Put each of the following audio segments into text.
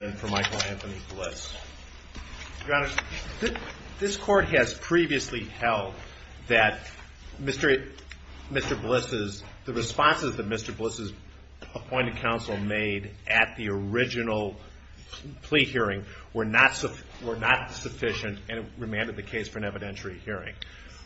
This court has previously held that Mr. Bliss's, the responses that Mr. Bliss's appointed counsel made at the original plea hearing were not sufficient and it remanded the case for an evidentiary hearing.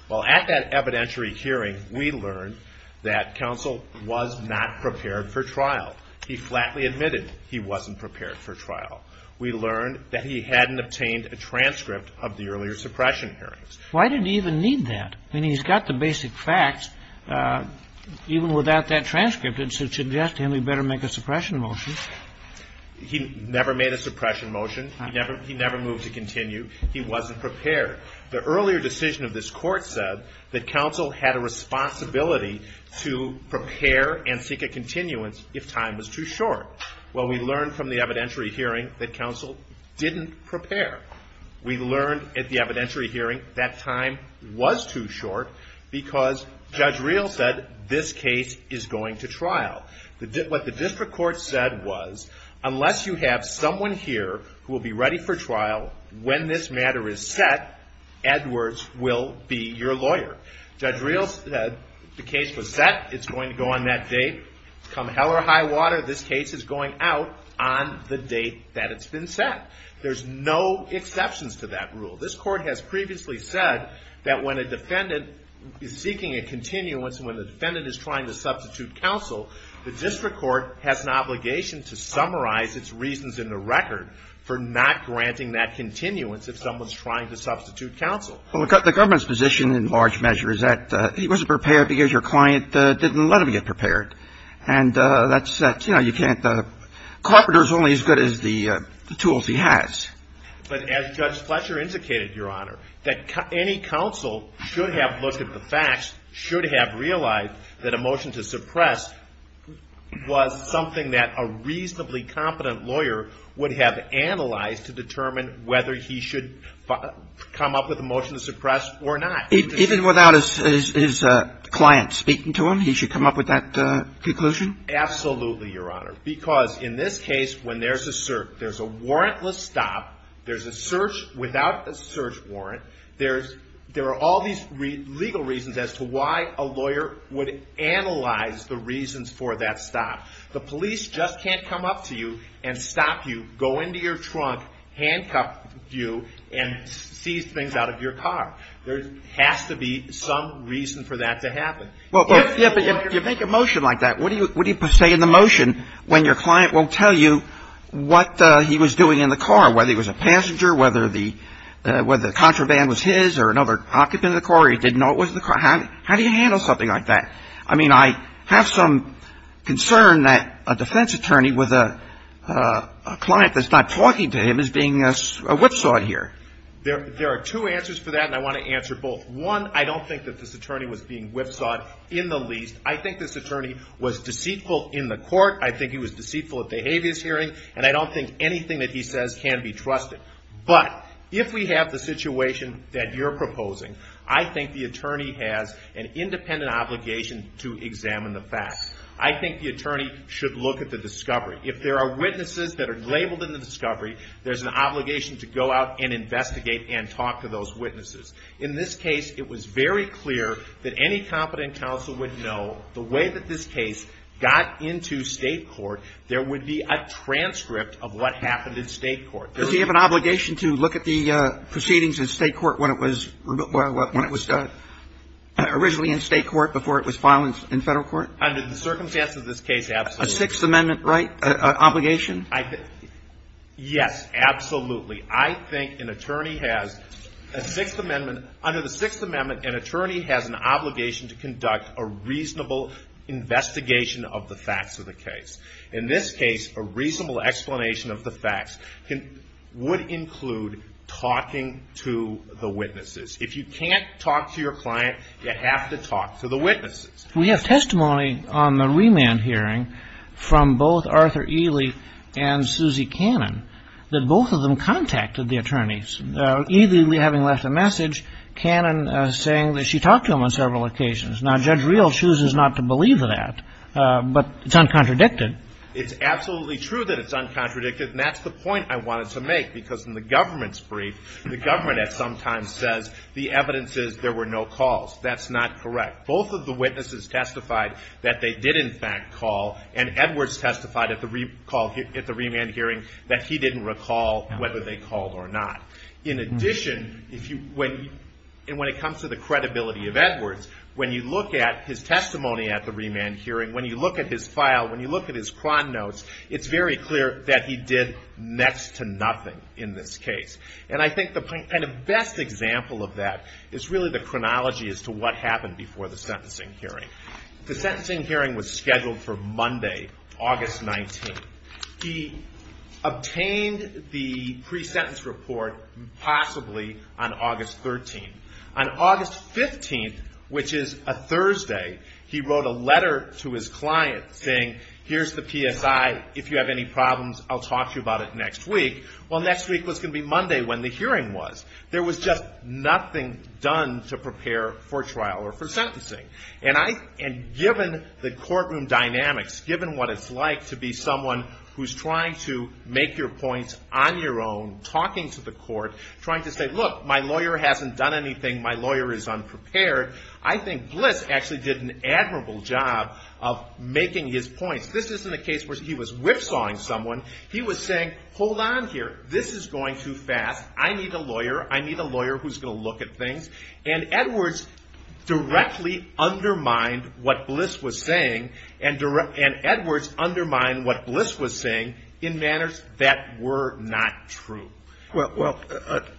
Well, at that evidentiary hearing, we learned that counsel was not prepared for trial. He flatly admitted he wasn't prepared for trial. We learned that he hadn't obtained a transcript of the earlier suppression hearings. Why did he even need that? I mean, he's got the basic facts. Even without that transcript, it suggests to him he better make a suppression motion. He never made a suppression motion. He never moved to continue. He wasn't prepared. The earlier decision of this court said that counsel had a responsibility to prepare and seek a continuance if time was too short. Well, we learned from the evidentiary hearing that counsel didn't prepare. We learned at the evidentiary hearing that time was too short because Judge Reel said this case is going to trial. What the district court said was, unless you have someone here who will be ready for trial, when this matter is set, Edwards will be your lawyer. Judge Reel said the case was set. It's going to go on that date. It's come hell or high water. This case is going out on the date that it's been set. There's no exceptions to that rule. This court has previously said that when a defendant is seeking a continuance and when the defendant is trying to substitute counsel, the district court has an obligation to summarize its reasons in the record for not granting that continuance if someone's trying to substitute counsel. Well, the government's position in large measure is that he wasn't prepared because your client didn't let him get prepared. And that's, you know, you can't – Carpenter's only as good as the tools he has. But as Judge Fletcher indicated, Your Honor, that any counsel should have looked at the facts, should have realized that a motion to suppress was something that a reasonably competent lawyer would have analyzed to determine whether he should come up with a motion to suppress or not. Even without his client speaking to him, he should come up with that conclusion? Absolutely, Your Honor. Because in this case, when there's a warrantless stop, there's a search without a search warrant, there are all these legal reasons as to why a lawyer would analyze the reasons for that stop. The police just can't come up to you and stop you, go into your trunk, handcuff you, and seize things out of your car. There has to be some reason for that to happen. Well, if you make a motion like that, what do you say in the motion when your client won't tell you what he was doing in the car, whether he was a passenger, whether the contraband was his or another occupant of the car, or he didn't know it was the car? How do you handle something like that? I mean, I have some concern that a defense attorney with a client that's not talking to him is being whipsawed here. There are two answers for that, and I want to answer both. One, I don't think that this attorney was being whipsawed in the least. I think this attorney was deceitful in the court. I think he was deceitful at the habeas hearing, and I don't think anything that he says can be trusted. But if we have the situation that you're proposing, I think the attorney has an independent obligation to examine the facts. I think the attorney should look at the discovery. If there are witnesses that are labeled in the discovery, there's an obligation to go out and investigate and talk to those witnesses. In this case, it was very clear that any competent counsel would know the way that this case got into state court, there would be a transcript of what happened in state court. Does he have an obligation to look at the proceedings in state court when it was originally in state court before it was filed in federal court? Under the circumstances of this case, absolutely. A Sixth Amendment right, obligation? Yes, absolutely. I think an attorney has a Sixth Amendment. Under the Sixth Amendment, an attorney has an obligation to conduct a reasonable investigation of the facts of the case. In this case, a reasonable explanation of the facts would include talking to the witnesses. If you can't talk to your client, you have to talk to the witnesses. We have testimony on the remand hearing from both Arthur Ely and Suzy Cannon that both of them contacted the attorneys. Ely, having left a message, Cannon saying that she talked to him on several occasions. Now, Judge Reel chooses not to believe that, but it's uncontradicted. It's absolutely true that it's uncontradicted, and that's the point I wanted to make, because in the government's brief, the government at some time says the evidence is there were no calls. That's not correct. Both of the witnesses testified that they did in fact call, and Edwards testified at the remand hearing that he didn't recall whether they called or not. In addition, when it comes to the credibility of Edwards, when you look at his testimony at the remand hearing, when you look at his file, when you look at his cron notes, it's very clear that he did next to nothing in this case. And I think the best example of that is really the chronology as to what happened before the sentencing hearing. The sentencing hearing was scheduled for Monday, August 19th. He obtained the pre-sentence report possibly on August 13th. On August 15th, which is a Thursday, he wrote a letter to his client saying, here's the PSI. If you have any problems, I'll talk to you about it next week. Well, next week was going to be Monday when the hearing was. There was just nothing done to prepare for trial or for sentencing. And given the courtroom dynamics, given what it's like to be someone who's trying to make your points on your own, talking to the court, trying to say, look, my lawyer hasn't done anything. My lawyer is unprepared. I think Bliss actually did an admirable job of making his points. This isn't a case where he was whipsawing someone. He was saying, hold on here. This is going too fast. I need a lawyer. I need a lawyer who's going to look at things. And Edwards directly undermined what Bliss was saying and Edwards undermined what Bliss was saying in manners that were not true. Well,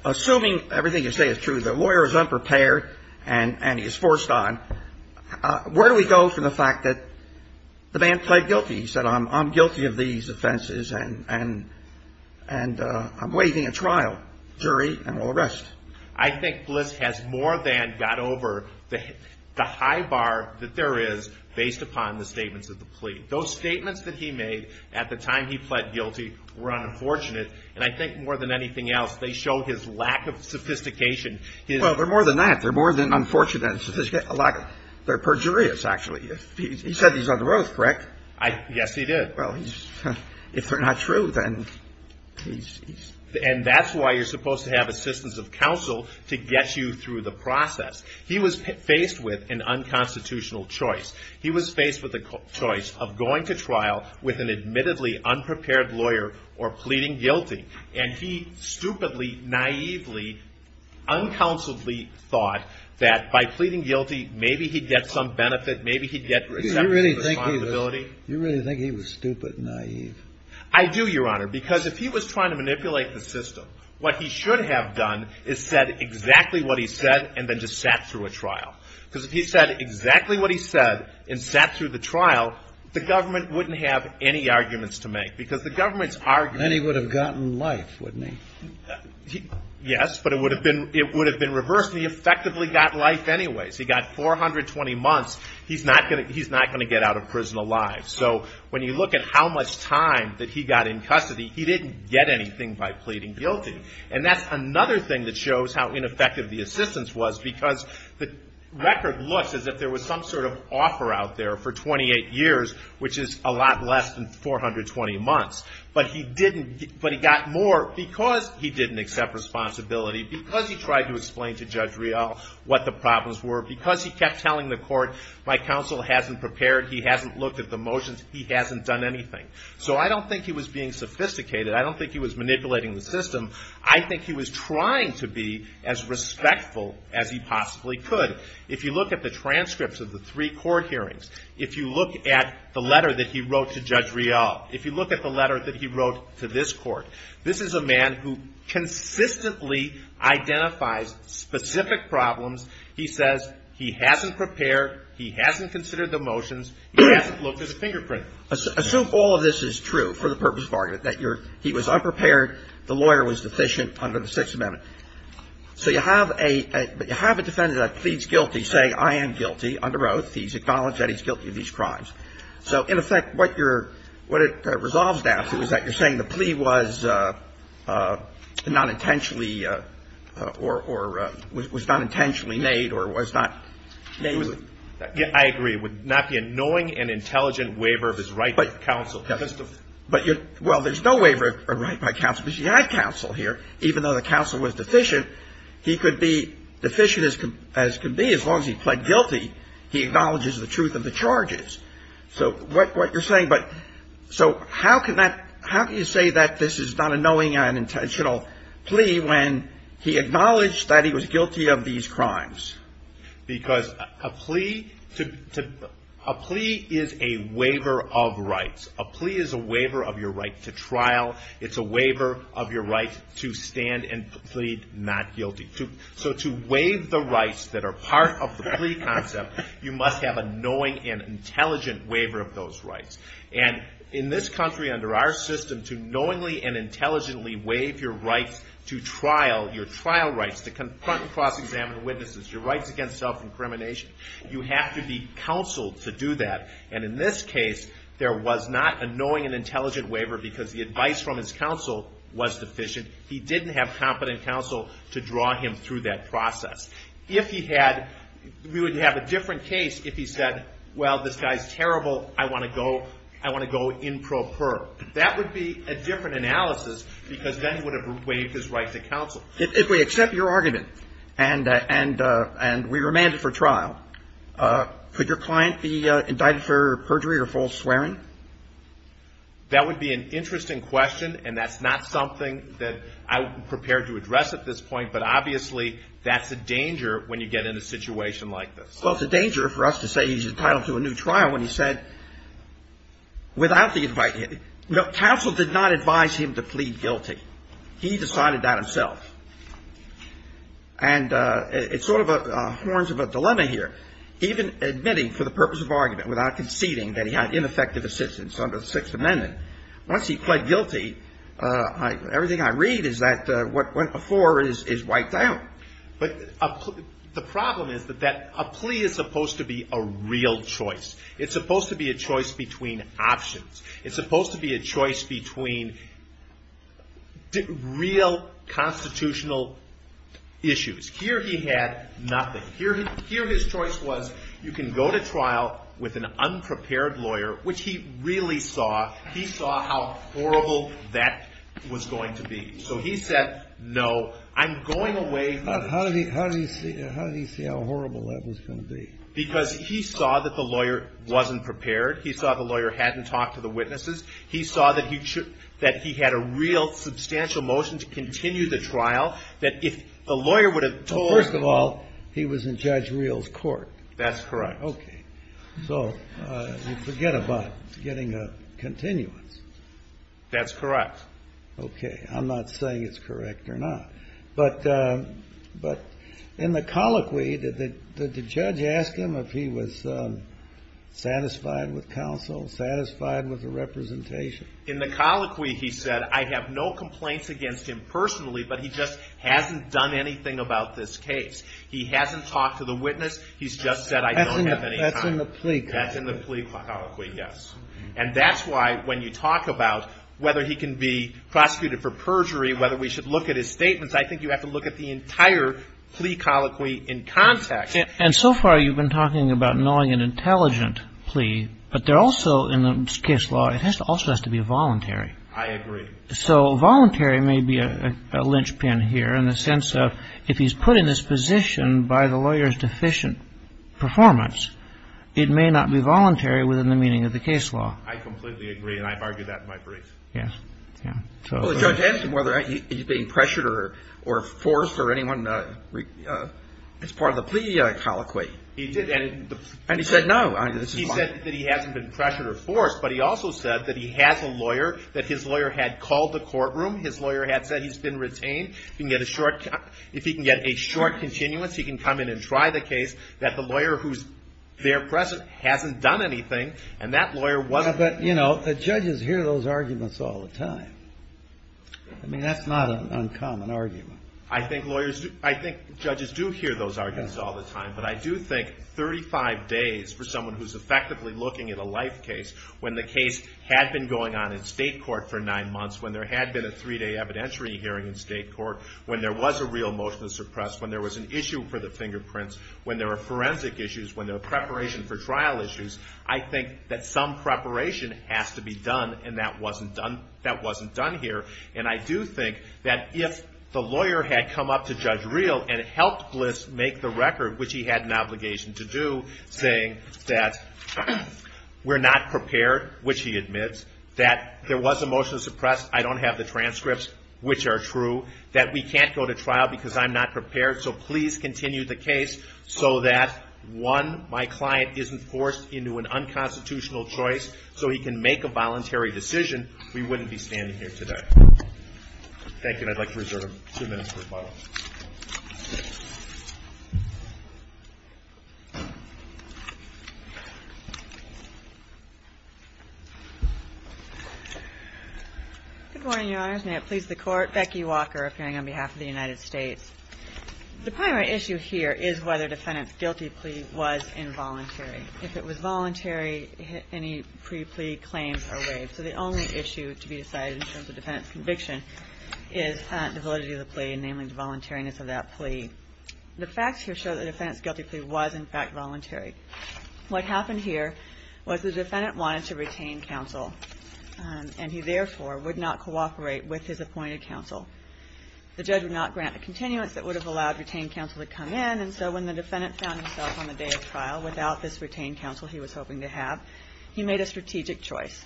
assuming everything you say is true, the lawyer is unprepared and he's forced on, where do we go from the fact that the man pled guilty? He said, I'm guilty of these offenses and I'm waiving a trial jury and will arrest. I think Bliss has more than got over the high bar that there is based upon the statements of the plea. Those statements that he made at the time he pled guilty were unfortunate. And I think more than anything else, they show his lack of sophistication. Well, they're more than that. They're more than unfortunate and sophisticated. They're perjurious, actually. He said these are the rules, correct? Yes, he did. Well, if they're not true, then he's. And that's why you're supposed to have assistance of counsel to get you through the process. He was faced with an unconstitutional choice. He was faced with the choice of going to trial with an admittedly unprepared lawyer or pleading guilty. And he stupidly, naively, uncounseledly thought that by pleading guilty, maybe he'd get some benefit, maybe he'd get some responsibility. Do you really think he was stupid and naive? I do, Your Honor, because if he was trying to manipulate the system, what he should have done is said exactly what he said and then just sat through a trial. Because if he said exactly what he said and sat through the trial, the government wouldn't have any arguments to make because the government's argument. Then he would have gotten life, wouldn't he? Yes, but it would have been reversed, and he effectively got life anyways. He got 420 months. He's not going to get out of prison alive. So when you look at how much time that he got in custody, he didn't get anything by pleading guilty. And that's another thing that shows how ineffective the assistance was because the record looks as if there was some sort of offer out there for 28 years, which is a lot less than 420 months. But he got more because he didn't accept responsibility, because he tried to explain to Judge Rial what the problems were, because he kept telling the court, my counsel hasn't prepared, he hasn't looked at the motions, he hasn't done anything. So I don't think he was being sophisticated. I don't think he was manipulating the system. I think he was trying to be as respectful as he possibly could. If you look at the transcripts of the three court hearings, if you look at the letter that he wrote to Judge Rial, if you look at the letter that he wrote to this court, this is a man who consistently identifies specific problems. He says he hasn't prepared, he hasn't considered the motions, he hasn't looked at the fingerprint. Assume all of this is true for the purpose of argument, that he was unprepared, the lawyer was deficient under the Sixth Amendment. So you have a defendant that pleads guilty, saying I am guilty under oath. He's acknowledged that he's guilty of these crimes. So in effect, what it resolves down to is that you're saying the plea was not intentionally or was not intentionally made or was not made with. I agree. It would not be a knowing and intelligent waiver of his right by counsel. Well, there's no waiver of right by counsel because he had counsel here. Even though the counsel was deficient, he could be deficient as could be. As long as he pled guilty, he acknowledges the truth of the charges. So what you're saying, so how can you say that this is not a knowing and intentional plea when he acknowledged that he was guilty of these crimes? Because a plea is a waiver of rights. A plea is a waiver of your right to trial. It's a waiver of your right to stand and plead not guilty. So to waive the rights that are part of the plea concept, you must have a knowing and intelligent waiver of those rights. And in this country, under our system, to knowingly and intelligently waive your rights to trial, your trial rights to confront and cross-examine witnesses, your rights against self-incrimination, you have to be counseled to do that. And in this case, there was not a knowing and intelligent waiver because the advice from his counsel was deficient. He didn't have competent counsel to draw him through that process. If he had, we would have a different case if he said, well, this guy's terrible, I want to go improper. That would be a different analysis because then he would have waived his right to counsel. If we accept your argument and we remand it for trial, could your client be indicted for perjury or false swearing? That would be an interesting question, and that's not something that I'm prepared to address at this point, but obviously that's a danger when you get in a situation like this. Well, it's a danger for us to say he's entitled to a new trial when he said, without the advice, counsel did not advise him to plead guilty. He decided that himself. And it's sort of the horns of a dilemma here. Even admitting for the purpose of argument without conceding that he had ineffective assistance under the Sixth Amendment, once he pled guilty, everything I read is that what went before is wiped out. But the problem is that a plea is supposed to be a real choice. It's supposed to be a choice between options. It's supposed to be a choice between real constitutional issues. Here he had nothing. Here his choice was you can go to trial with an unprepared lawyer, which he really saw. He saw how horrible that was going to be. So he said, no, I'm going away from it. How did he see how horrible that was going to be? Because he saw that the lawyer wasn't prepared. He saw the lawyer hadn't talked to the witnesses. He saw that he had a real substantial motion to continue the trial, that if the lawyer would have told him. Well, first of all, he was in Judge Reel's court. That's correct. Okay. So you forget about getting a continuance. That's correct. Okay. I'm not saying it's correct or not. But in the colloquy, did the judge ask him if he was satisfied with counsel, satisfied with the representation? In the colloquy, he said, I have no complaints against him personally, but he just hasn't done anything about this case. He hasn't talked to the witness. He's just said, I don't have any time. That's in the plea colloquy. That's in the plea colloquy, yes. And that's why when you talk about whether he can be prosecuted for perjury, whether we should look at his statements, I think you have to look at the entire plea colloquy in context. And so far you've been talking about knowing an intelligent plea, but there also in this case law, it also has to be voluntary. I agree. So voluntary may be a linchpin here in the sense of if he's put in this position by the lawyer's deficient performance, it may not be voluntary within the meaning of the case law. I completely agree, and I've argued that in my briefs. Yes. Well, the judge asked him whether he's being pressured or forced or anyone as part of the plea colloquy. He did, and he said no. He said that he hasn't been pressured or forced, but he also said that he has a lawyer, that his lawyer had called the courtroom. His lawyer had said he's been retained. If he can get a short continuance, he can come in and try the case, that the lawyer who's there present hasn't done anything, and that lawyer wasn't. But, you know, the judges hear those arguments all the time. I mean, that's not an uncommon argument. I think judges do hear those arguments all the time, but I do think 35 days for someone who's effectively looking at a life case, when the case had been going on in state court for nine months, when there had been a three-day evidentiary hearing in state court, when there was a real motion to suppress, when there was an issue for the fingerprints, when there were forensic issues, when there were preparation for trial issues, I think that some preparation has to be done, and that wasn't done here. And I do think that if the lawyer had come up to Judge Real and helped Bliss make the record, which he had an obligation to do, saying that we're not prepared, which he admits, that there was a motion to suppress, I don't have the transcripts, which are true, that we can't go to trial because I'm not prepared, so please continue the case so that, one, my client isn't forced into an unconstitutional choice so he can make a voluntary decision, we wouldn't be standing here today. Thank you, and I'd like to reserve two minutes for rebuttal. Good morning, Your Honors. May it please the Court. Becky Walker, appearing on behalf of the United States. The primary issue here is whether defendant's guilty plea was involuntary. If it was voluntary, any pre-plea claims are waived. So the only issue to be decided in terms of defendant's conviction is the validity of the plea, namely the voluntariness of that plea. The facts here show that the defendant's guilty plea was, in fact, voluntary. What happened here was the defendant wanted to retain counsel, and he, therefore, would not cooperate with his appointed counsel. The judge would not grant a continuance that would have allowed retained counsel to come in, and so when the defendant found himself on the day of trial without this retained counsel he was hoping to have, he made a strategic choice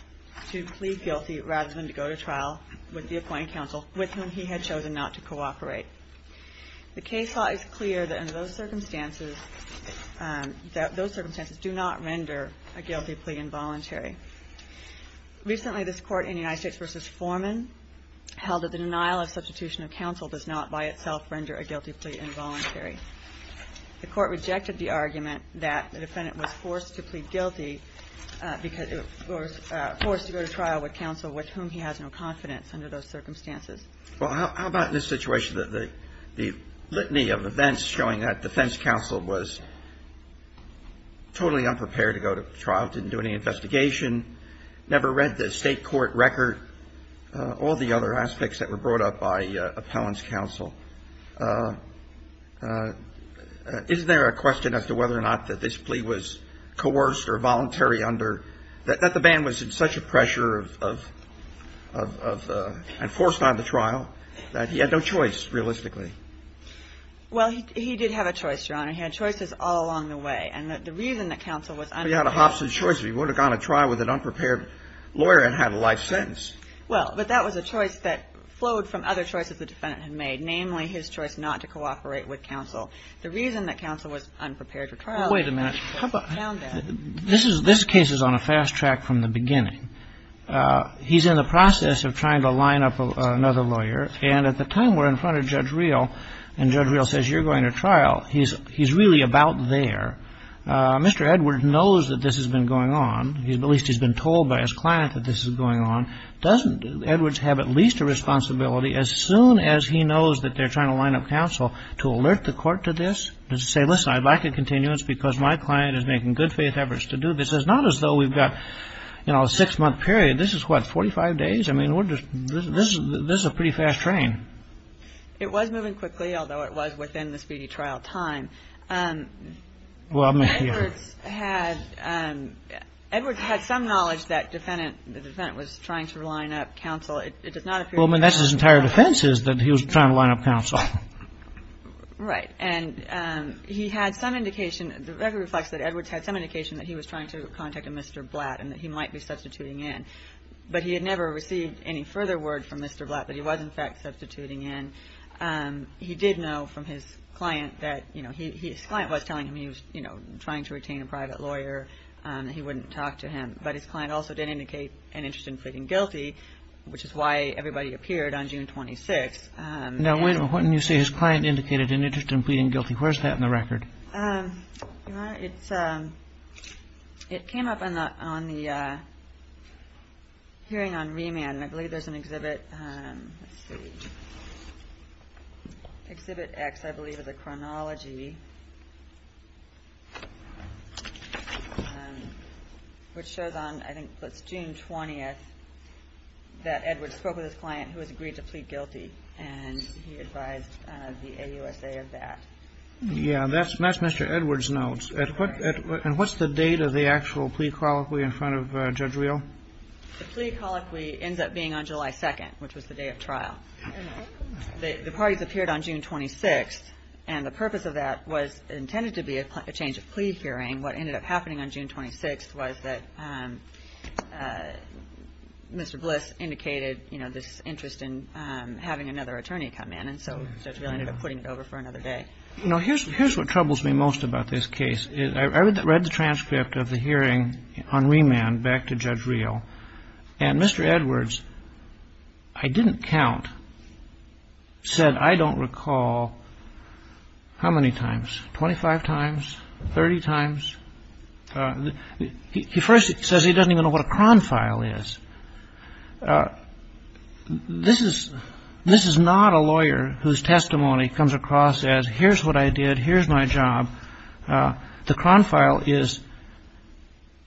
to plead guilty rather than to go to trial with the appointed counsel with whom he had chosen not to cooperate. The case law is clear that in those circumstances, those circumstances do not render a guilty plea involuntary. Recently this Court in United States v. Foreman held that the denial of substitution of counsel does not by itself render a guilty plea involuntary. The Court rejected the argument that the defendant was forced to plead guilty because he was forced to go to trial with counsel with whom he has no confidence under those circumstances. Well, how about in this situation, the litany of events showing that defense counsel was totally unprepared to go to trial, didn't do any investigation, never read the State court record, all the other aspects that were brought up by appellant's counsel. Isn't there a question as to whether or not that this plea was coerced or voluntary under, that the man was in such a pressure of, and forced on to trial that he had no choice realistically? Well, he did have a choice, Your Honor. He had choices all along the way. And the reason that counsel was unprepared. He had a Hobson choice. He wouldn't have gone to trial with an unprepared lawyer and had a life sentence. Well, but that was a choice that flowed from other choices the defendant had made, namely his choice not to cooperate with counsel. The reason that counsel was unprepared for trial. Wait a minute. How about. This case is on a fast track from the beginning. He's in the process of trying to line up another lawyer. And at the time we're in front of Judge Reel, and Judge Reel says you're going to trial, he's really about there. Mr. Edward knows that this has been going on. At least he's been told by his client that this is going on. Doesn't Edwards have at least a responsibility as soon as he knows that they're trying to line up counsel to alert the court to this? To say, listen, I'd like a continuance because my client is making good faith efforts to do this. It's not as though we've got, you know, a six-month period. This is what, 45 days? I mean, this is a pretty fast train. It was moving quickly, although it was within the speedy trial time. Edwards had some knowledge that the defendant was trying to line up counsel. It does not appear. Well, I mean, that's his entire defense is that he was trying to line up counsel. Right. And he had some indication. The record reflects that Edwards had some indication that he was trying to contact a Mr. Blatt and that he might be substituting in. But he had never received any further word from Mr. Blatt that he was, in fact, substituting in. He did know from his client that, you know, his client was telling him he was, you know, trying to retain a private lawyer. He wouldn't talk to him. But his client also did indicate an interest in pleading guilty, which is why everybody appeared on June 26. Now, when you say his client indicated an interest in pleading guilty, where's that in the record? It's it came up on the hearing on remand. And I believe there's an exhibit. Exhibit X, I believe, is a chronology. Which shows on, I think, June 20th that Edwards spoke with his client who has agreed to plead guilty. And he advised the AUSA of that. Yeah, that's Mr. Edwards' notes. And what's the date of the actual plea colloquy in front of Judge Real? The plea colloquy ends up being on July 2nd, which was the day of trial. The parties appeared on June 26th. And the purpose of that was intended to be a change of plea hearing. What ended up happening on June 26th was that Mr. Bliss indicated, you know, this interest in having another attorney come in. So Judge Real ended up putting it over for another day. You know, here's what troubles me most about this case. I read the transcript of the hearing on remand back to Judge Real. And Mr. Edwards, I didn't count, said, I don't recall how many times, 25 times, 30 times. He first says he doesn't even know what a cron file is. This is not a lawyer whose testimony comes across as here's what I did, here's my job. The cron file is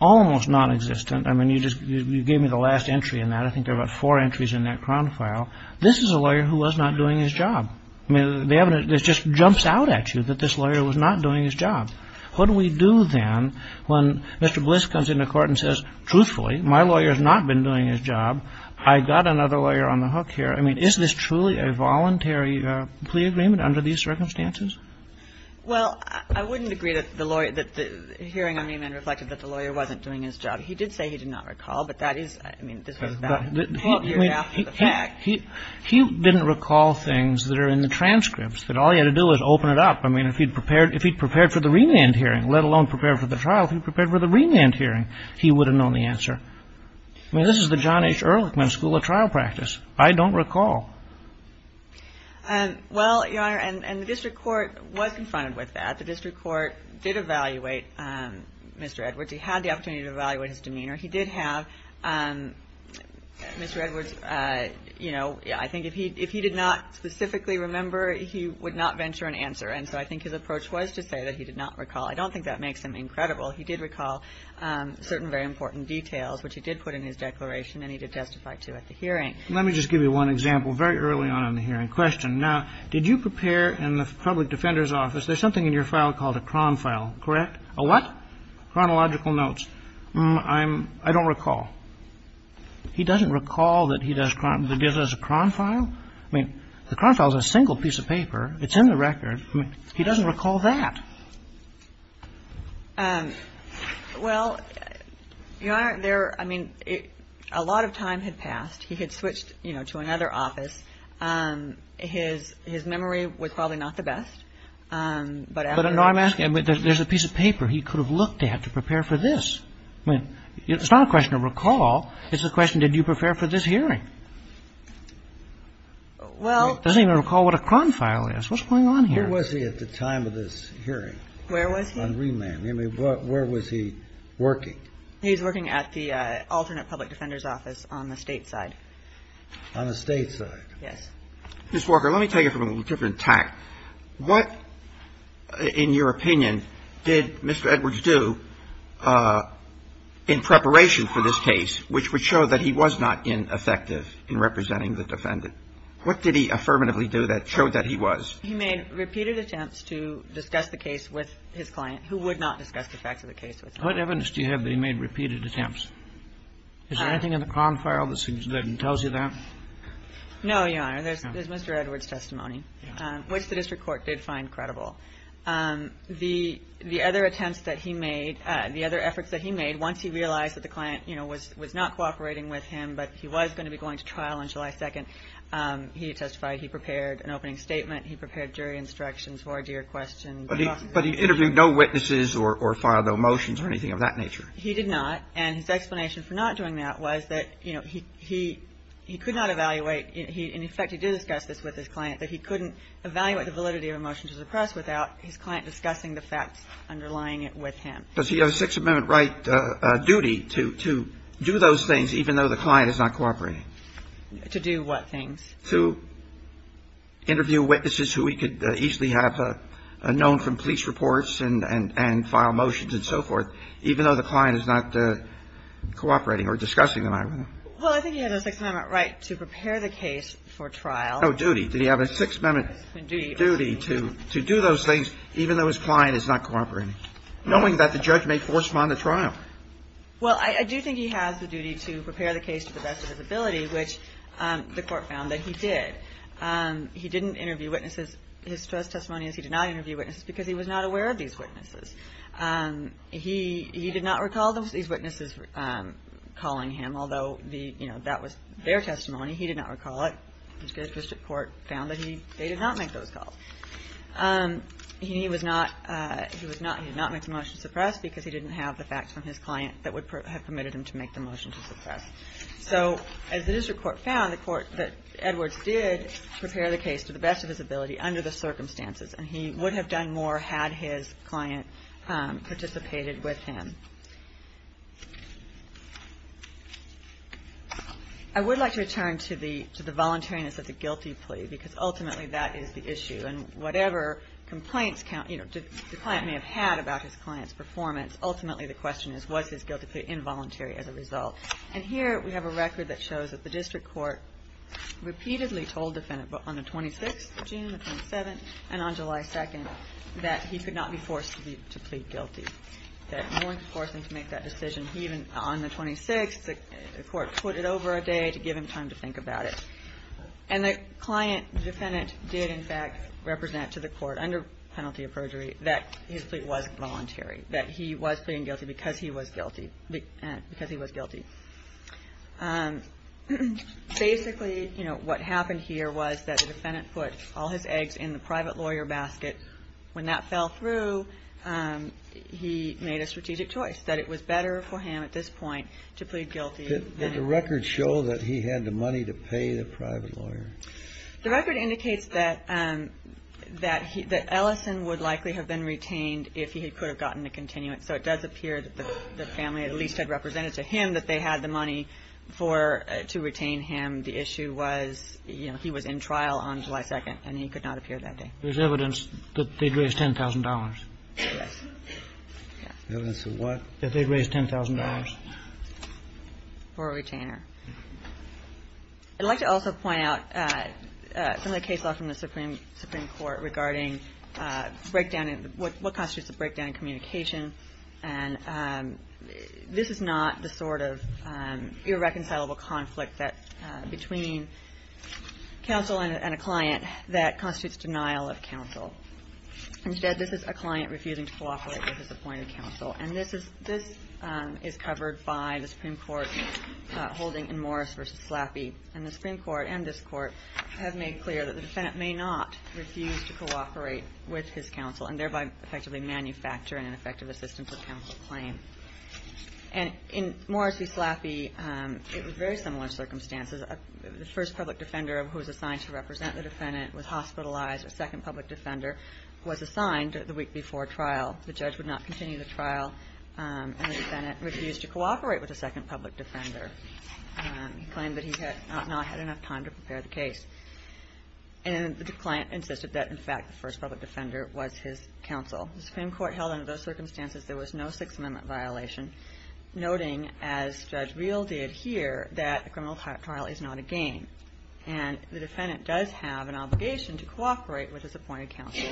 almost nonexistent. I mean, you just gave me the last entry in that. I think there are about four entries in that cron file. This is a lawyer who was not doing his job. I mean, the evidence just jumps out at you that this lawyer was not doing his job. What do we do then when Mr. Bliss comes into court and says, truthfully, my lawyer has not been doing his job, I got another lawyer on the hook here. I mean, is this truly a voluntary plea agreement under these circumstances? Well, I wouldn't agree that the hearing on remand reflected that the lawyer wasn't doing his job. He did say he did not recall, but that is, I mean, this was about a year after the fact. He didn't recall things that are in the transcripts, that all he had to do was open it up. I mean, if he had prepared for the remand hearing, let alone prepared for the trial, if he had prepared for the remand hearing, he would have known the answer. I mean, this is the John H. Ehrlichman School of Trial Practice. I don't recall. Well, Your Honor, and the district court was confronted with that. The district court did evaluate Mr. Edwards. He had the opportunity to evaluate his demeanor. He did have Mr. Edwards, you know, I think if he did not specifically remember, he would not venture an answer. And so I think his approach was to say that he did not recall. I don't think that makes him incredible. He did recall certain very important details, which he did put in his declaration and he did testify to at the hearing. Let me just give you one example very early on in the hearing. Question. Now, did you prepare in the public defender's office, there's something in your file called a cron file, correct? A what? Chronological notes. I don't recall. He doesn't recall that he does a cron file? I mean, the cron file is a single piece of paper. It's in the record. He doesn't recall that. Well, Your Honor, there, I mean, a lot of time had passed. He had switched, you know, to another office. His memory was probably not the best. But I'm asking, there's a piece of paper he could have looked at to prepare for this. I mean, it's not a question of recall. It's a question, did you prepare for this hearing? Well. He doesn't even recall what a cron file is. What's going on here? Where was he at the time of this hearing? Where was he? On remand. I mean, where was he working? He was working at the alternate public defender's office on the State side. On the State side? Yes. Ms. Walker, let me take it from a different tack. What, in your opinion, did Mr. Edwards do in preparation for this case which would I mean, what did he do? He showed that he was not ineffective in representing the defendant. What did he affirmatively do that showed that he was? He made repeated attempts to discuss the case with his client who would not discuss the facts of the case with him. What evidence do you have that he made repeated attempts? Is there anything in the cron file that tells you that? No, Your Honor. There's Mr. Edwards' testimony, which the district court did find credible. The other attempts that he made, the other efforts that he made once he realized that the client, you know, was not cooperating with him but he was going to be going to trial on July 2nd, he testified. He prepared an opening statement. He prepared jury instructions for a jury question. But he interviewed no witnesses or filed no motions or anything of that nature? He did not. And his explanation for not doing that was that, you know, he could not evaluate. In effect, he did discuss this with his client that he couldn't evaluate the validity of a motion to suppress without his client discussing the facts underlying it with him. Does he have a Sixth Amendment right duty to do those things even though the client is not cooperating? To do what things? To interview witnesses who he could easily have known from police reports and file motions and so forth even though the client is not cooperating or discussing the matter with him. Well, I think he has a Sixth Amendment right to prepare the case for trial. No, duty. Did he have a Sixth Amendment duty to do those things even though his client is not cooperating, knowing that the judge may force him on to trial? Well, I do think he has the duty to prepare the case to the best of his ability, which the Court found that he did. He didn't interview witnesses. His testimony is he did not interview witnesses because he was not aware of these witnesses. He did not recall these witnesses calling him, although the, you know, that was their testimony. He did not recall it. The district court found that he did not make those calls. He was not, he did not make the motion to suppress because he didn't have the facts from his client that would have permitted him to make the motion to suppress. So as the district court found, the court, Edwards did prepare the case to the best of his ability under the circumstances, and he would have done more had his client participated with him. I would like to return to the voluntariness of the guilty plea because ultimately that is the issue. And whatever complaints, you know, the client may have had about his client's performance, ultimately the question is was this guilty plea involuntary as a result? And here we have a record that shows that the district court repeatedly told the defendant on the 26th of June, the 27th, and on July 2nd that he could not be forced to plead guilty, that no one could force him to make that decision. He even, on the 26th, the court put it over a day to give him time to think about it. And the client, the defendant, did, in fact, represent to the court under penalty of perjury that his plea was voluntary, that he was pleading guilty because he was guilty. Basically, you know, what happened here was that the defendant put all his eggs in the private lawyer basket. When that fell through, he made a strategic choice, that it was better for him at this point to plead guilty. Did the record show that he had the money to pay the private lawyer? The record indicates that Ellison would likely have been retained if he could have gotten a continuance. So it does appear that the family at least had represented to him that they had the money to retain him. The issue was, you know, he was in trial on July 2nd, and he could not appear that day. There's evidence that they'd raised $10,000. Evidence of what? That they'd raised $10,000. For a retainer. I'd like to also point out some of the case law from the Supreme Court regarding breakdown and what constitutes a breakdown in communication. And this is not the sort of irreconcilable conflict that between counsel and a client that constitutes denial of counsel. Instead, this is a client refusing to cooperate with his appointed counsel. And this is covered by the Supreme Court holding in Morris v. Slaffy. And the Supreme Court and this Court have made clear that the defendant may not refuse to cooperate with his counsel and thereby effectively manufacture an ineffective assistance for counsel claim. And in Morris v. Slaffy, it was very similar circumstances. The first public defender who was assigned to represent the defendant was hospitalized. A second public defender was assigned the week before trial. The judge would not continue the trial, and the defendant refused to cooperate with the second public defender. He claimed that he had not had enough time to prepare the case. And the client insisted that, in fact, the first public defender was his counsel. The Supreme Court held under those circumstances there was no Sixth Amendment violation, noting, as Judge Reel did here, that a criminal trial is not a game. And the defendant does have an obligation to cooperate with his appointed counsel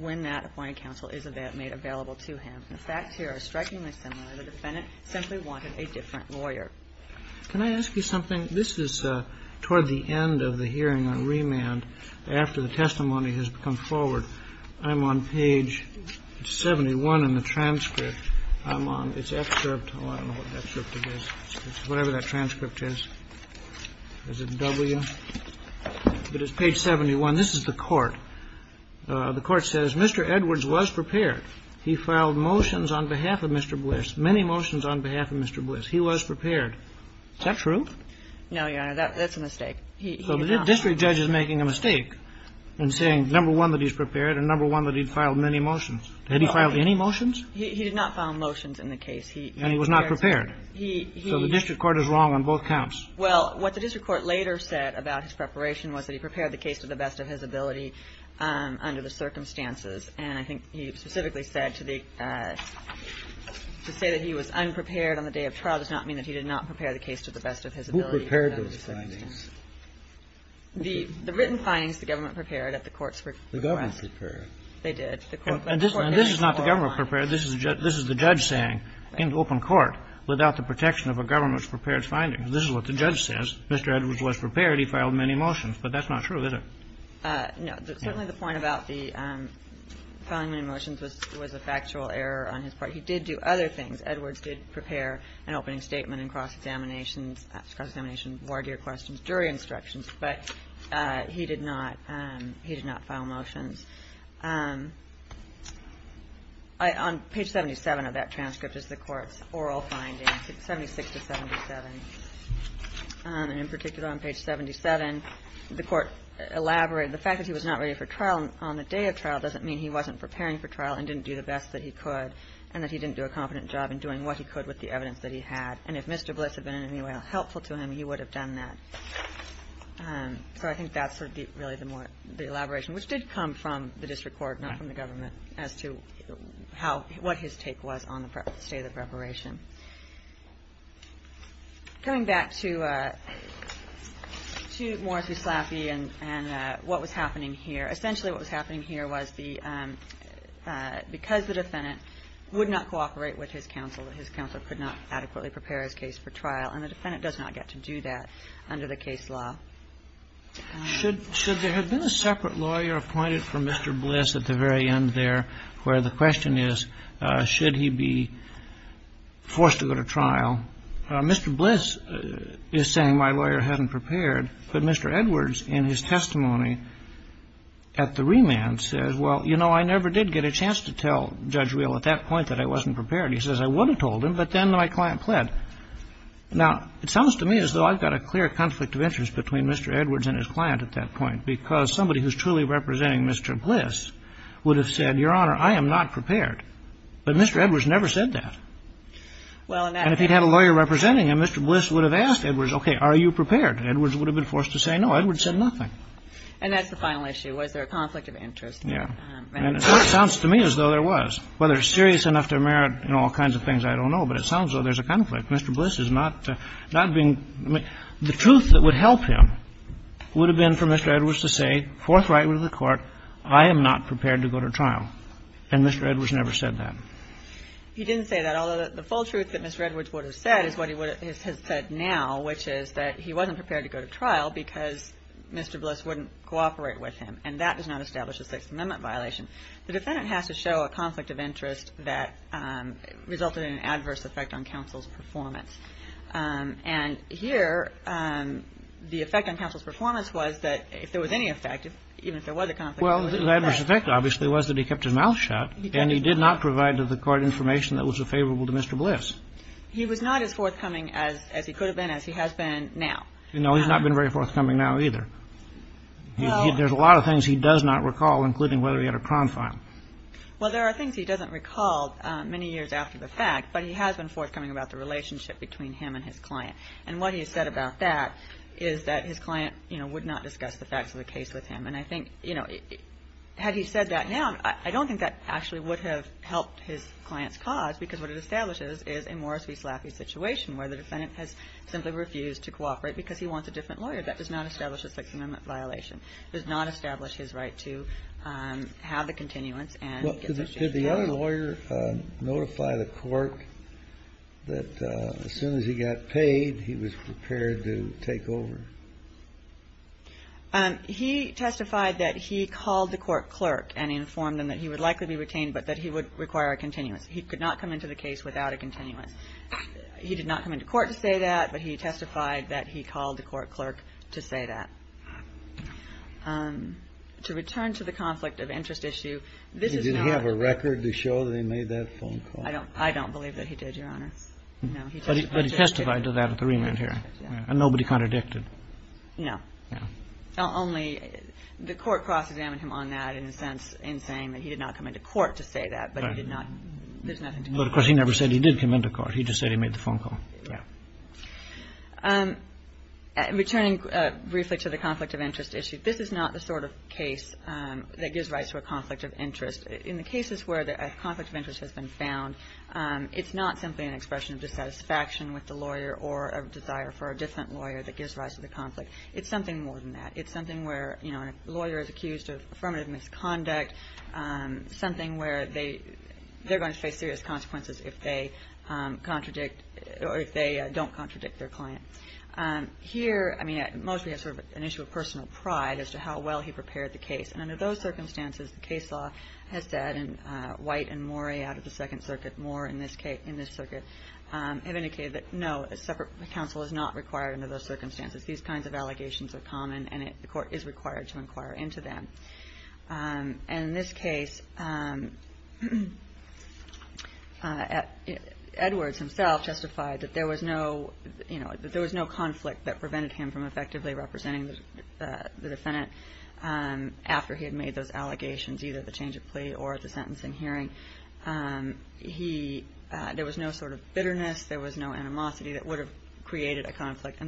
when that appointed counsel is made available to him. The facts here are strikingly similar. The defendant simply wanted a different lawyer. Can I ask you something? This is toward the end of the hearing on remand after the testimony has come forward. I'm on page 71 in the transcript. I'm on its excerpt. I don't know what that excerpt is. It's whatever that transcript is. Is it W? But it's page 71. This is the Court. The Court says, Mr. Edwards was prepared. He filed motions on behalf of Mr. Bliss, many motions on behalf of Mr. Bliss. He was prepared. Is that true? No, Your Honor. That's a mistake. So the district judge is making a mistake in saying, number one, that he's prepared, and number one, that he'd filed many motions. Had he filed any motions? He did not file motions in the case. And he was not prepared. So the district court is wrong on both counts. Well, what the district court later said about his preparation was that he prepared the case to the best of his ability under the circumstances. And I think he specifically said to the – to say that he was unprepared on the day of trial does not mean that he did not prepare the case to the best of his ability under the circumstances. He did not prepare those findings. The written findings, the government prepared at the court's request. The government prepared. They did. And this is not the government prepared. This is the judge saying in open court, without the protection of a government's prepared findings. This is what the judge says. Mr. Edwards was prepared. He filed many motions. But that's not true, is it? No. Certainly the point about the filing many motions was a factual error on his part. He did do other things. Edwards did prepare an opening statement and cross-examination, cross-examination of war deer questions during instructions. But he did not – he did not file motions. On page 77 of that transcript is the court's oral findings, 76 to 77. And in particular on page 77, the court elaborated the fact that he was not ready for trial on the day of trial doesn't mean he wasn't preparing for trial and didn't do the best that he could and that he didn't do a competent job in doing what he could with the evidence that he had. And if Mr. Bliss had been in any way helpful to him, he would have done that. So I think that's really the elaboration, which did come from the district court, not from the government, as to how – what his take was on the state of the preparation. Coming back to Morris v. Slaffy and what was happening here, essentially what was happening here was that Mr. Bliss was not ready for trial on the day of trial. He was not ready for trial on the day of trial because the defendant would not cooperate with his counsel. His counsel could not adequately prepare his case for trial. And the defendant does not get to do that under the case law. Kennedy. Should there have been a separate lawyer appointed for Mr. Bliss at the very end there where the question is, should he be forced to go to trial? Mr. Bliss is saying, my lawyer hasn't prepared. But Mr. Edwards, in his testimony at the remand, says, well, you know, I never did get a chance to tell Judge Real at that point that I wasn't prepared. He says, I would have told him, but then my client pled. Now, it sounds to me as though I've got a clear conflict of interest between Mr. Edwards and his client at that point because somebody who's truly representing Mr. Bliss would have said, Your Honor, I am not prepared. But Mr. Edwards never said that. And if he'd had a lawyer representing him, Mr. Bliss would have asked Edwards, okay, are you prepared? Edwards would have been forced to say no. Edwards said nothing. And that's the final issue, was there a conflict of interest? Yeah. And so it sounds to me as though there was. Whether it's serious enough to merit in all kinds of things, I don't know, but it sounds as though there's a conflict. Mr. Bliss is not being – the truth that would help him would have been for Mr. Edwards to say forthrightly to the Court, I am not prepared to go to trial. And Mr. Edwards never said that. He didn't say that, although the full truth that Mr. Edwards would have said is what he has said now, which is that he wasn't prepared to go to trial because Mr. Bliss wouldn't cooperate with him. And that does not establish a Sixth Amendment violation. The defendant has to show a conflict of interest that resulted in an adverse effect on counsel's performance. And here the effect on counsel's performance was that if there was any effect, even if there was a conflict of interest – Well, the adverse effect obviously was that he kept his mouth shut. And he did not provide to the Court information that was favorable to Mr. Bliss. He was not as forthcoming as he could have been, as he has been now. No, he's not been very forthcoming now either. There's a lot of things he does not recall, including whether he had a crime file. Well, there are things he doesn't recall many years after the fact, but he has been And what he has said about that is that his client, you know, would not discuss the facts of the case with him. And I think, you know, had he said that now, I don't think that actually would have helped his client's cause, because what it establishes is a Morris v. Slaffy situation where the defendant has simply refused to cooperate because he wants a different lawyer. That does not establish a Sixth Amendment violation. It does not establish his right to have the continuance and get substituted. Did the other lawyer notify the court that as soon as he got paid, he was prepared to take over? He testified that he called the court clerk and informed them that he would likely be retained, but that he would require a continuance. He could not come into the case without a continuance. He did not come into court to say that, but he testified that he called the court clerk to say that. To return to the conflict of interest issue, this is not clerk. The court clerk may have a record to show that he made that phone call. I don't believe that he did, Your Honor. No, he testified to it. But he testified to that at the remand hearing. And nobody contradicted? No. No. Only the court cross-examined him on that in a sense in saying that he did not come into court to say that, but he did not. There's nothing to make of that. But, of course, he never said he did come into court. He just said he made the phone call. Yeah. Returning briefly to the conflict of interest issue, this is not the sort of case that gives rise to a conflict of interest. In the cases where a conflict of interest has been found, it's not simply an expression of dissatisfaction with the lawyer or a desire for a different lawyer that gives rise to the conflict. It's something more than that. It's something where, you know, a lawyer is accused of affirmative misconduct, something where they're going to face serious consequences if they contradict or if they don't contradict their client. Here, I mean, mostly it's sort of an issue of personal pride as to how well he prepared the case. And under those circumstances, the case law has said, and White and Morey out of the Second Circuit, more in this circuit, have indicated that, no, a separate counsel is not required under those circumstances. These kinds of allegations are common, and the court is required to inquire into them. And in this case, Edwards himself justified that there was no conflict that prevented him from effectively representing the defendant after he had made those allegations, either the change of plea or the sentencing hearing. There was no sort of bitterness. And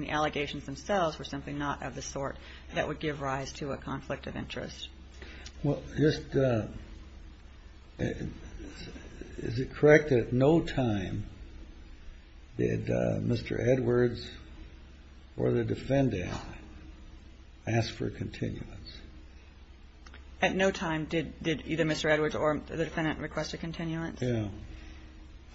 the allegations themselves were simply not of the sort that would give rise to a conflict of interest. Well, just is it correct that at no time did Mr. Edwards or the defendant ask for continuance? At no time did either Mr. Edwards or the defendant request a continuance? Yeah.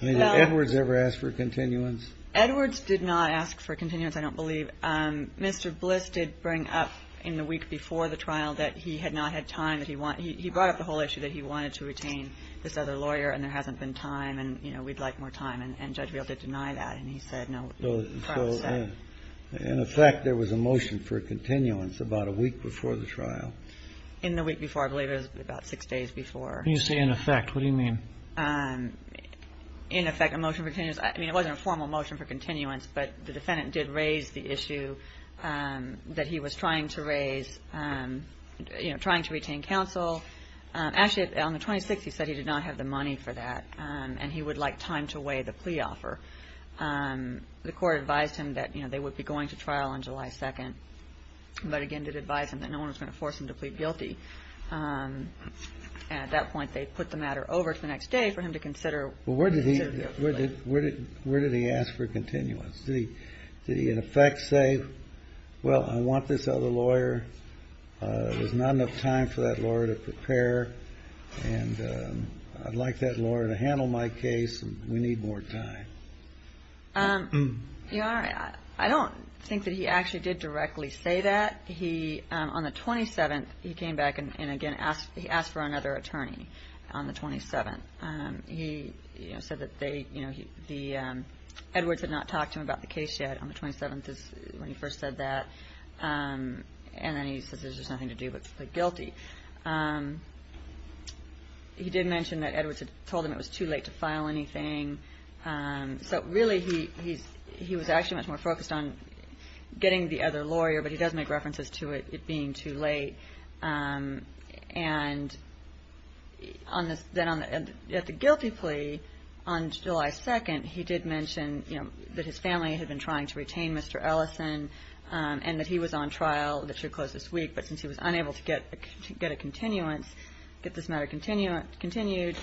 I mean, did Edwards ever ask for continuance? Edwards did not ask for continuance, I don't believe. Mr. Bliss did bring up in the week before the trial that he had not had time, that he brought up the whole issue, that he wanted to retain this other lawyer and there hasn't been time and, you know, we'd like more time. And Judge Real did deny that, and he said, no, he promised that. So in effect, there was a motion for continuance about a week before the trial? In the week before, I believe it was about six days before. When you say in effect, what do you mean? In effect, a motion for continuance, I mean, it wasn't a formal motion for continuance, but the defendant did raise the issue that he was trying to raise, you know, trying to retain counsel. Actually, on the 26th, he said he did not have the money for that, and he would like time to weigh the plea offer. The court advised him that, you know, they would be going to trial on July 2nd, but again did advise him that no one was going to force him to plead guilty. At that point, they put the matter over to the next day for him to consider. Well, where did he ask for continuance? Did he, in effect, say, well, I want this other lawyer, there's not enough time for that lawyer to prepare, and I'd like that lawyer to handle my case, and we need more time? Your Honor, I don't think that he actually did directly say that. On the 27th, he came back and, again, he asked for another attorney on the 27th. He said that Edwards had not talked to him about the case yet on the 27th when he first said that, and then he says there's just nothing to do but plead guilty. He did mention that Edwards had told him it was too late to file anything. So, really, he was actually much more focused on getting the other lawyer, but he does make references to it being too late. And then at the guilty plea on July 2nd, he did mention that his family had been trying to retain Mr. Ellison and that he was on trial that should close this week, but since he was unable to get a continuance, get this matter continued,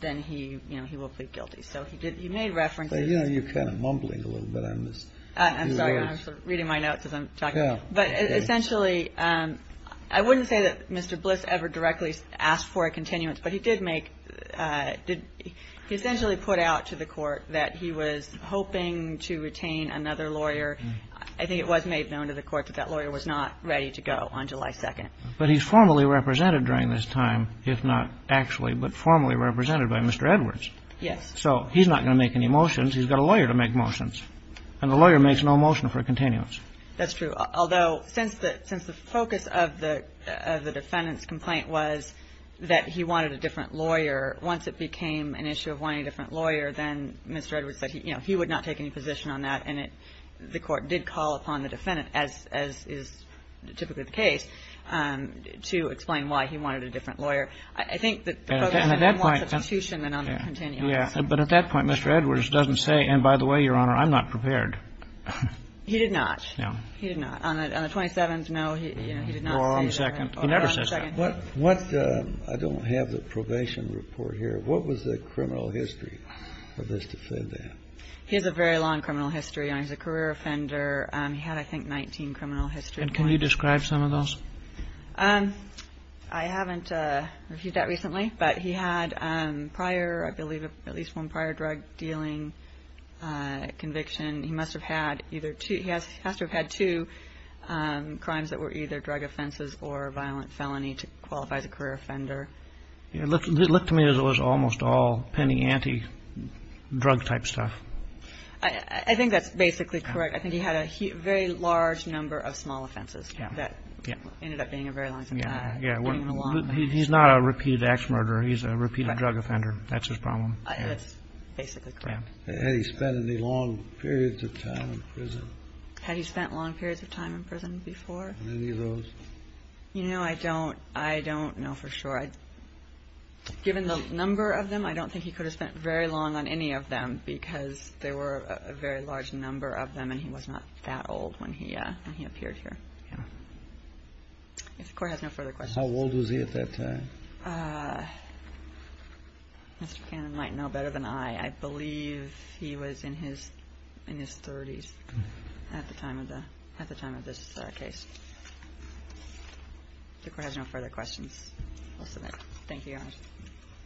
then he will plead guilty. So he made references. You know, you're kind of mumbling a little bit on this. I'm sorry. I'm reading my notes as I'm talking. But, essentially, I wouldn't say that Mr. Bliss ever directly asked for a continuance, but he did make – he essentially put out to the Court that he was hoping to retain another lawyer. I think it was made known to the Court that that lawyer was not ready to go on July 2nd. But he's formally represented during this time, if not actually, but formally represented by Mr. Edwards. Yes. So he's not going to make any motions. He's got a lawyer to make motions. And the lawyer makes no motion for a continuance. That's true. Although, since the focus of the defendant's complaint was that he wanted a different lawyer, once it became an issue of wanting a different lawyer, then Mr. Edwards said, you know, he would not take any position on that, and the Court did call upon the defendant, as is typically the case, to explain why he wanted a different lawyer. I think that the focus is more on substitution than on the continuance. Well, yeah. But at that point, Mr. Edwards doesn't say, and by the way, Your Honor, I'm not prepared. He did not. No. He did not. On the 27th, no, he did not say that. Or on the 2nd. He never says that. Or on the 2nd. I don't have the probation report here. What was the criminal history of this defendant? He has a very long criminal history, and he's a career offender. He had, I think, 19 criminal histories. And can you describe some of those? I haven't reviewed that recently, but he had prior, I believe, at least one prior drug-dealing conviction. He must have had either two. He has to have had two crimes that were either drug offenses or a violent felony to qualify as a career offender. It looked to me as it was almost all penny-ante drug-type stuff. I think that's basically correct. I think he had a very large number of small offenses that ended up being a very long time. Yeah. He's not a repeated act of murder. He's a repeated drug offender. That's his problem. That's basically correct. Had he spent any long periods of time in prison? Had he spent long periods of time in prison before? Any of those? You know, I don't know for sure. Given the number of them, I don't think he could have spent very long on any of them because there were a very large number of them and he was not that old when he appeared here. Yeah. If the Court has no further questions. How old was he at that time? Mr. Cannon might know better than I. I believe he was in his 30s at the time of this case. If the Court has no further questions, we'll submit. Thank you, Your Honor. Thank you.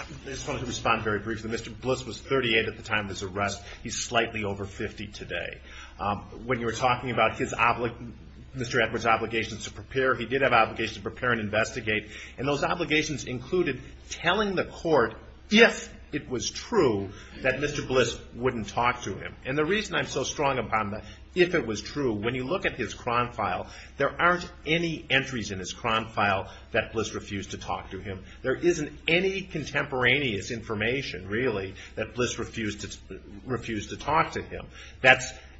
I just wanted to respond very briefly. Mr. Bliss was 38 at the time of his arrest. He's slightly over 50 today. When you were talking about Mr. Edwards' obligations to prepare, he did have obligations to prepare and investigate. And those obligations included telling the Court if it was true that Mr. Bliss wouldn't talk to him. And the reason I'm so strong upon the if it was true, when you look at his crime file, there aren't any entries in his crime file that Bliss refused to talk to him. There isn't any contemporaneous information, really, that Bliss refused to talk to him.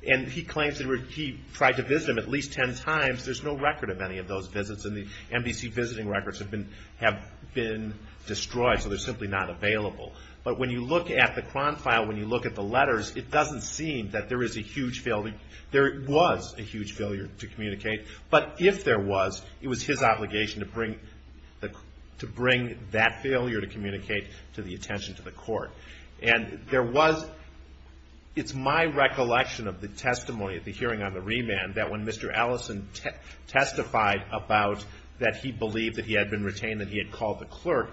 And he claims that he tried to visit him at least 10 times. There's no record of any of those visits. And the NBC visiting records have been destroyed, so they're simply not available. But when you look at the crime file, when you look at the letters, it doesn't seem that there is a huge failure. There was a huge failure to communicate. But if there was, it was his obligation to bring that failure to communicate to the attention to the Court. And there was – it's my recollection of the testimony at the hearing on the remand that when Mr. Allison testified about that he believed that he had been retained, that he had called the clerk,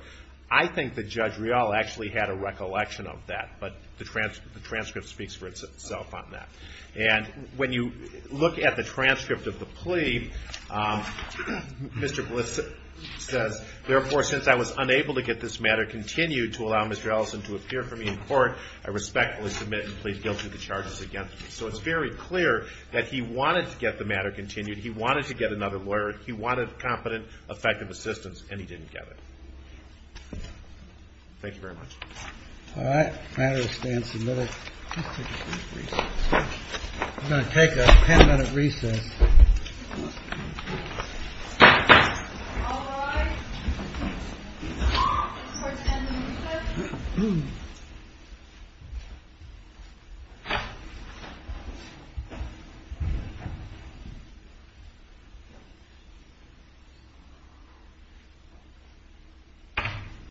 I think that Judge Rial actually had a recollection of that. But the transcript speaks for itself on that. And when you look at the transcript of the plea, Mr. Bliss says, therefore, since I was unable to get this matter continued to allow Mr. Allison to appear for me in court, I respectfully submit and plead guilty to the charges against me. So it's very clear that he wanted to get the matter continued. He wanted to get another lawyer. He wanted competent, effective assistance, and he didn't get it. Thank you very much. All right. The matter stands submitted. I'm going to take a ten-minute recess.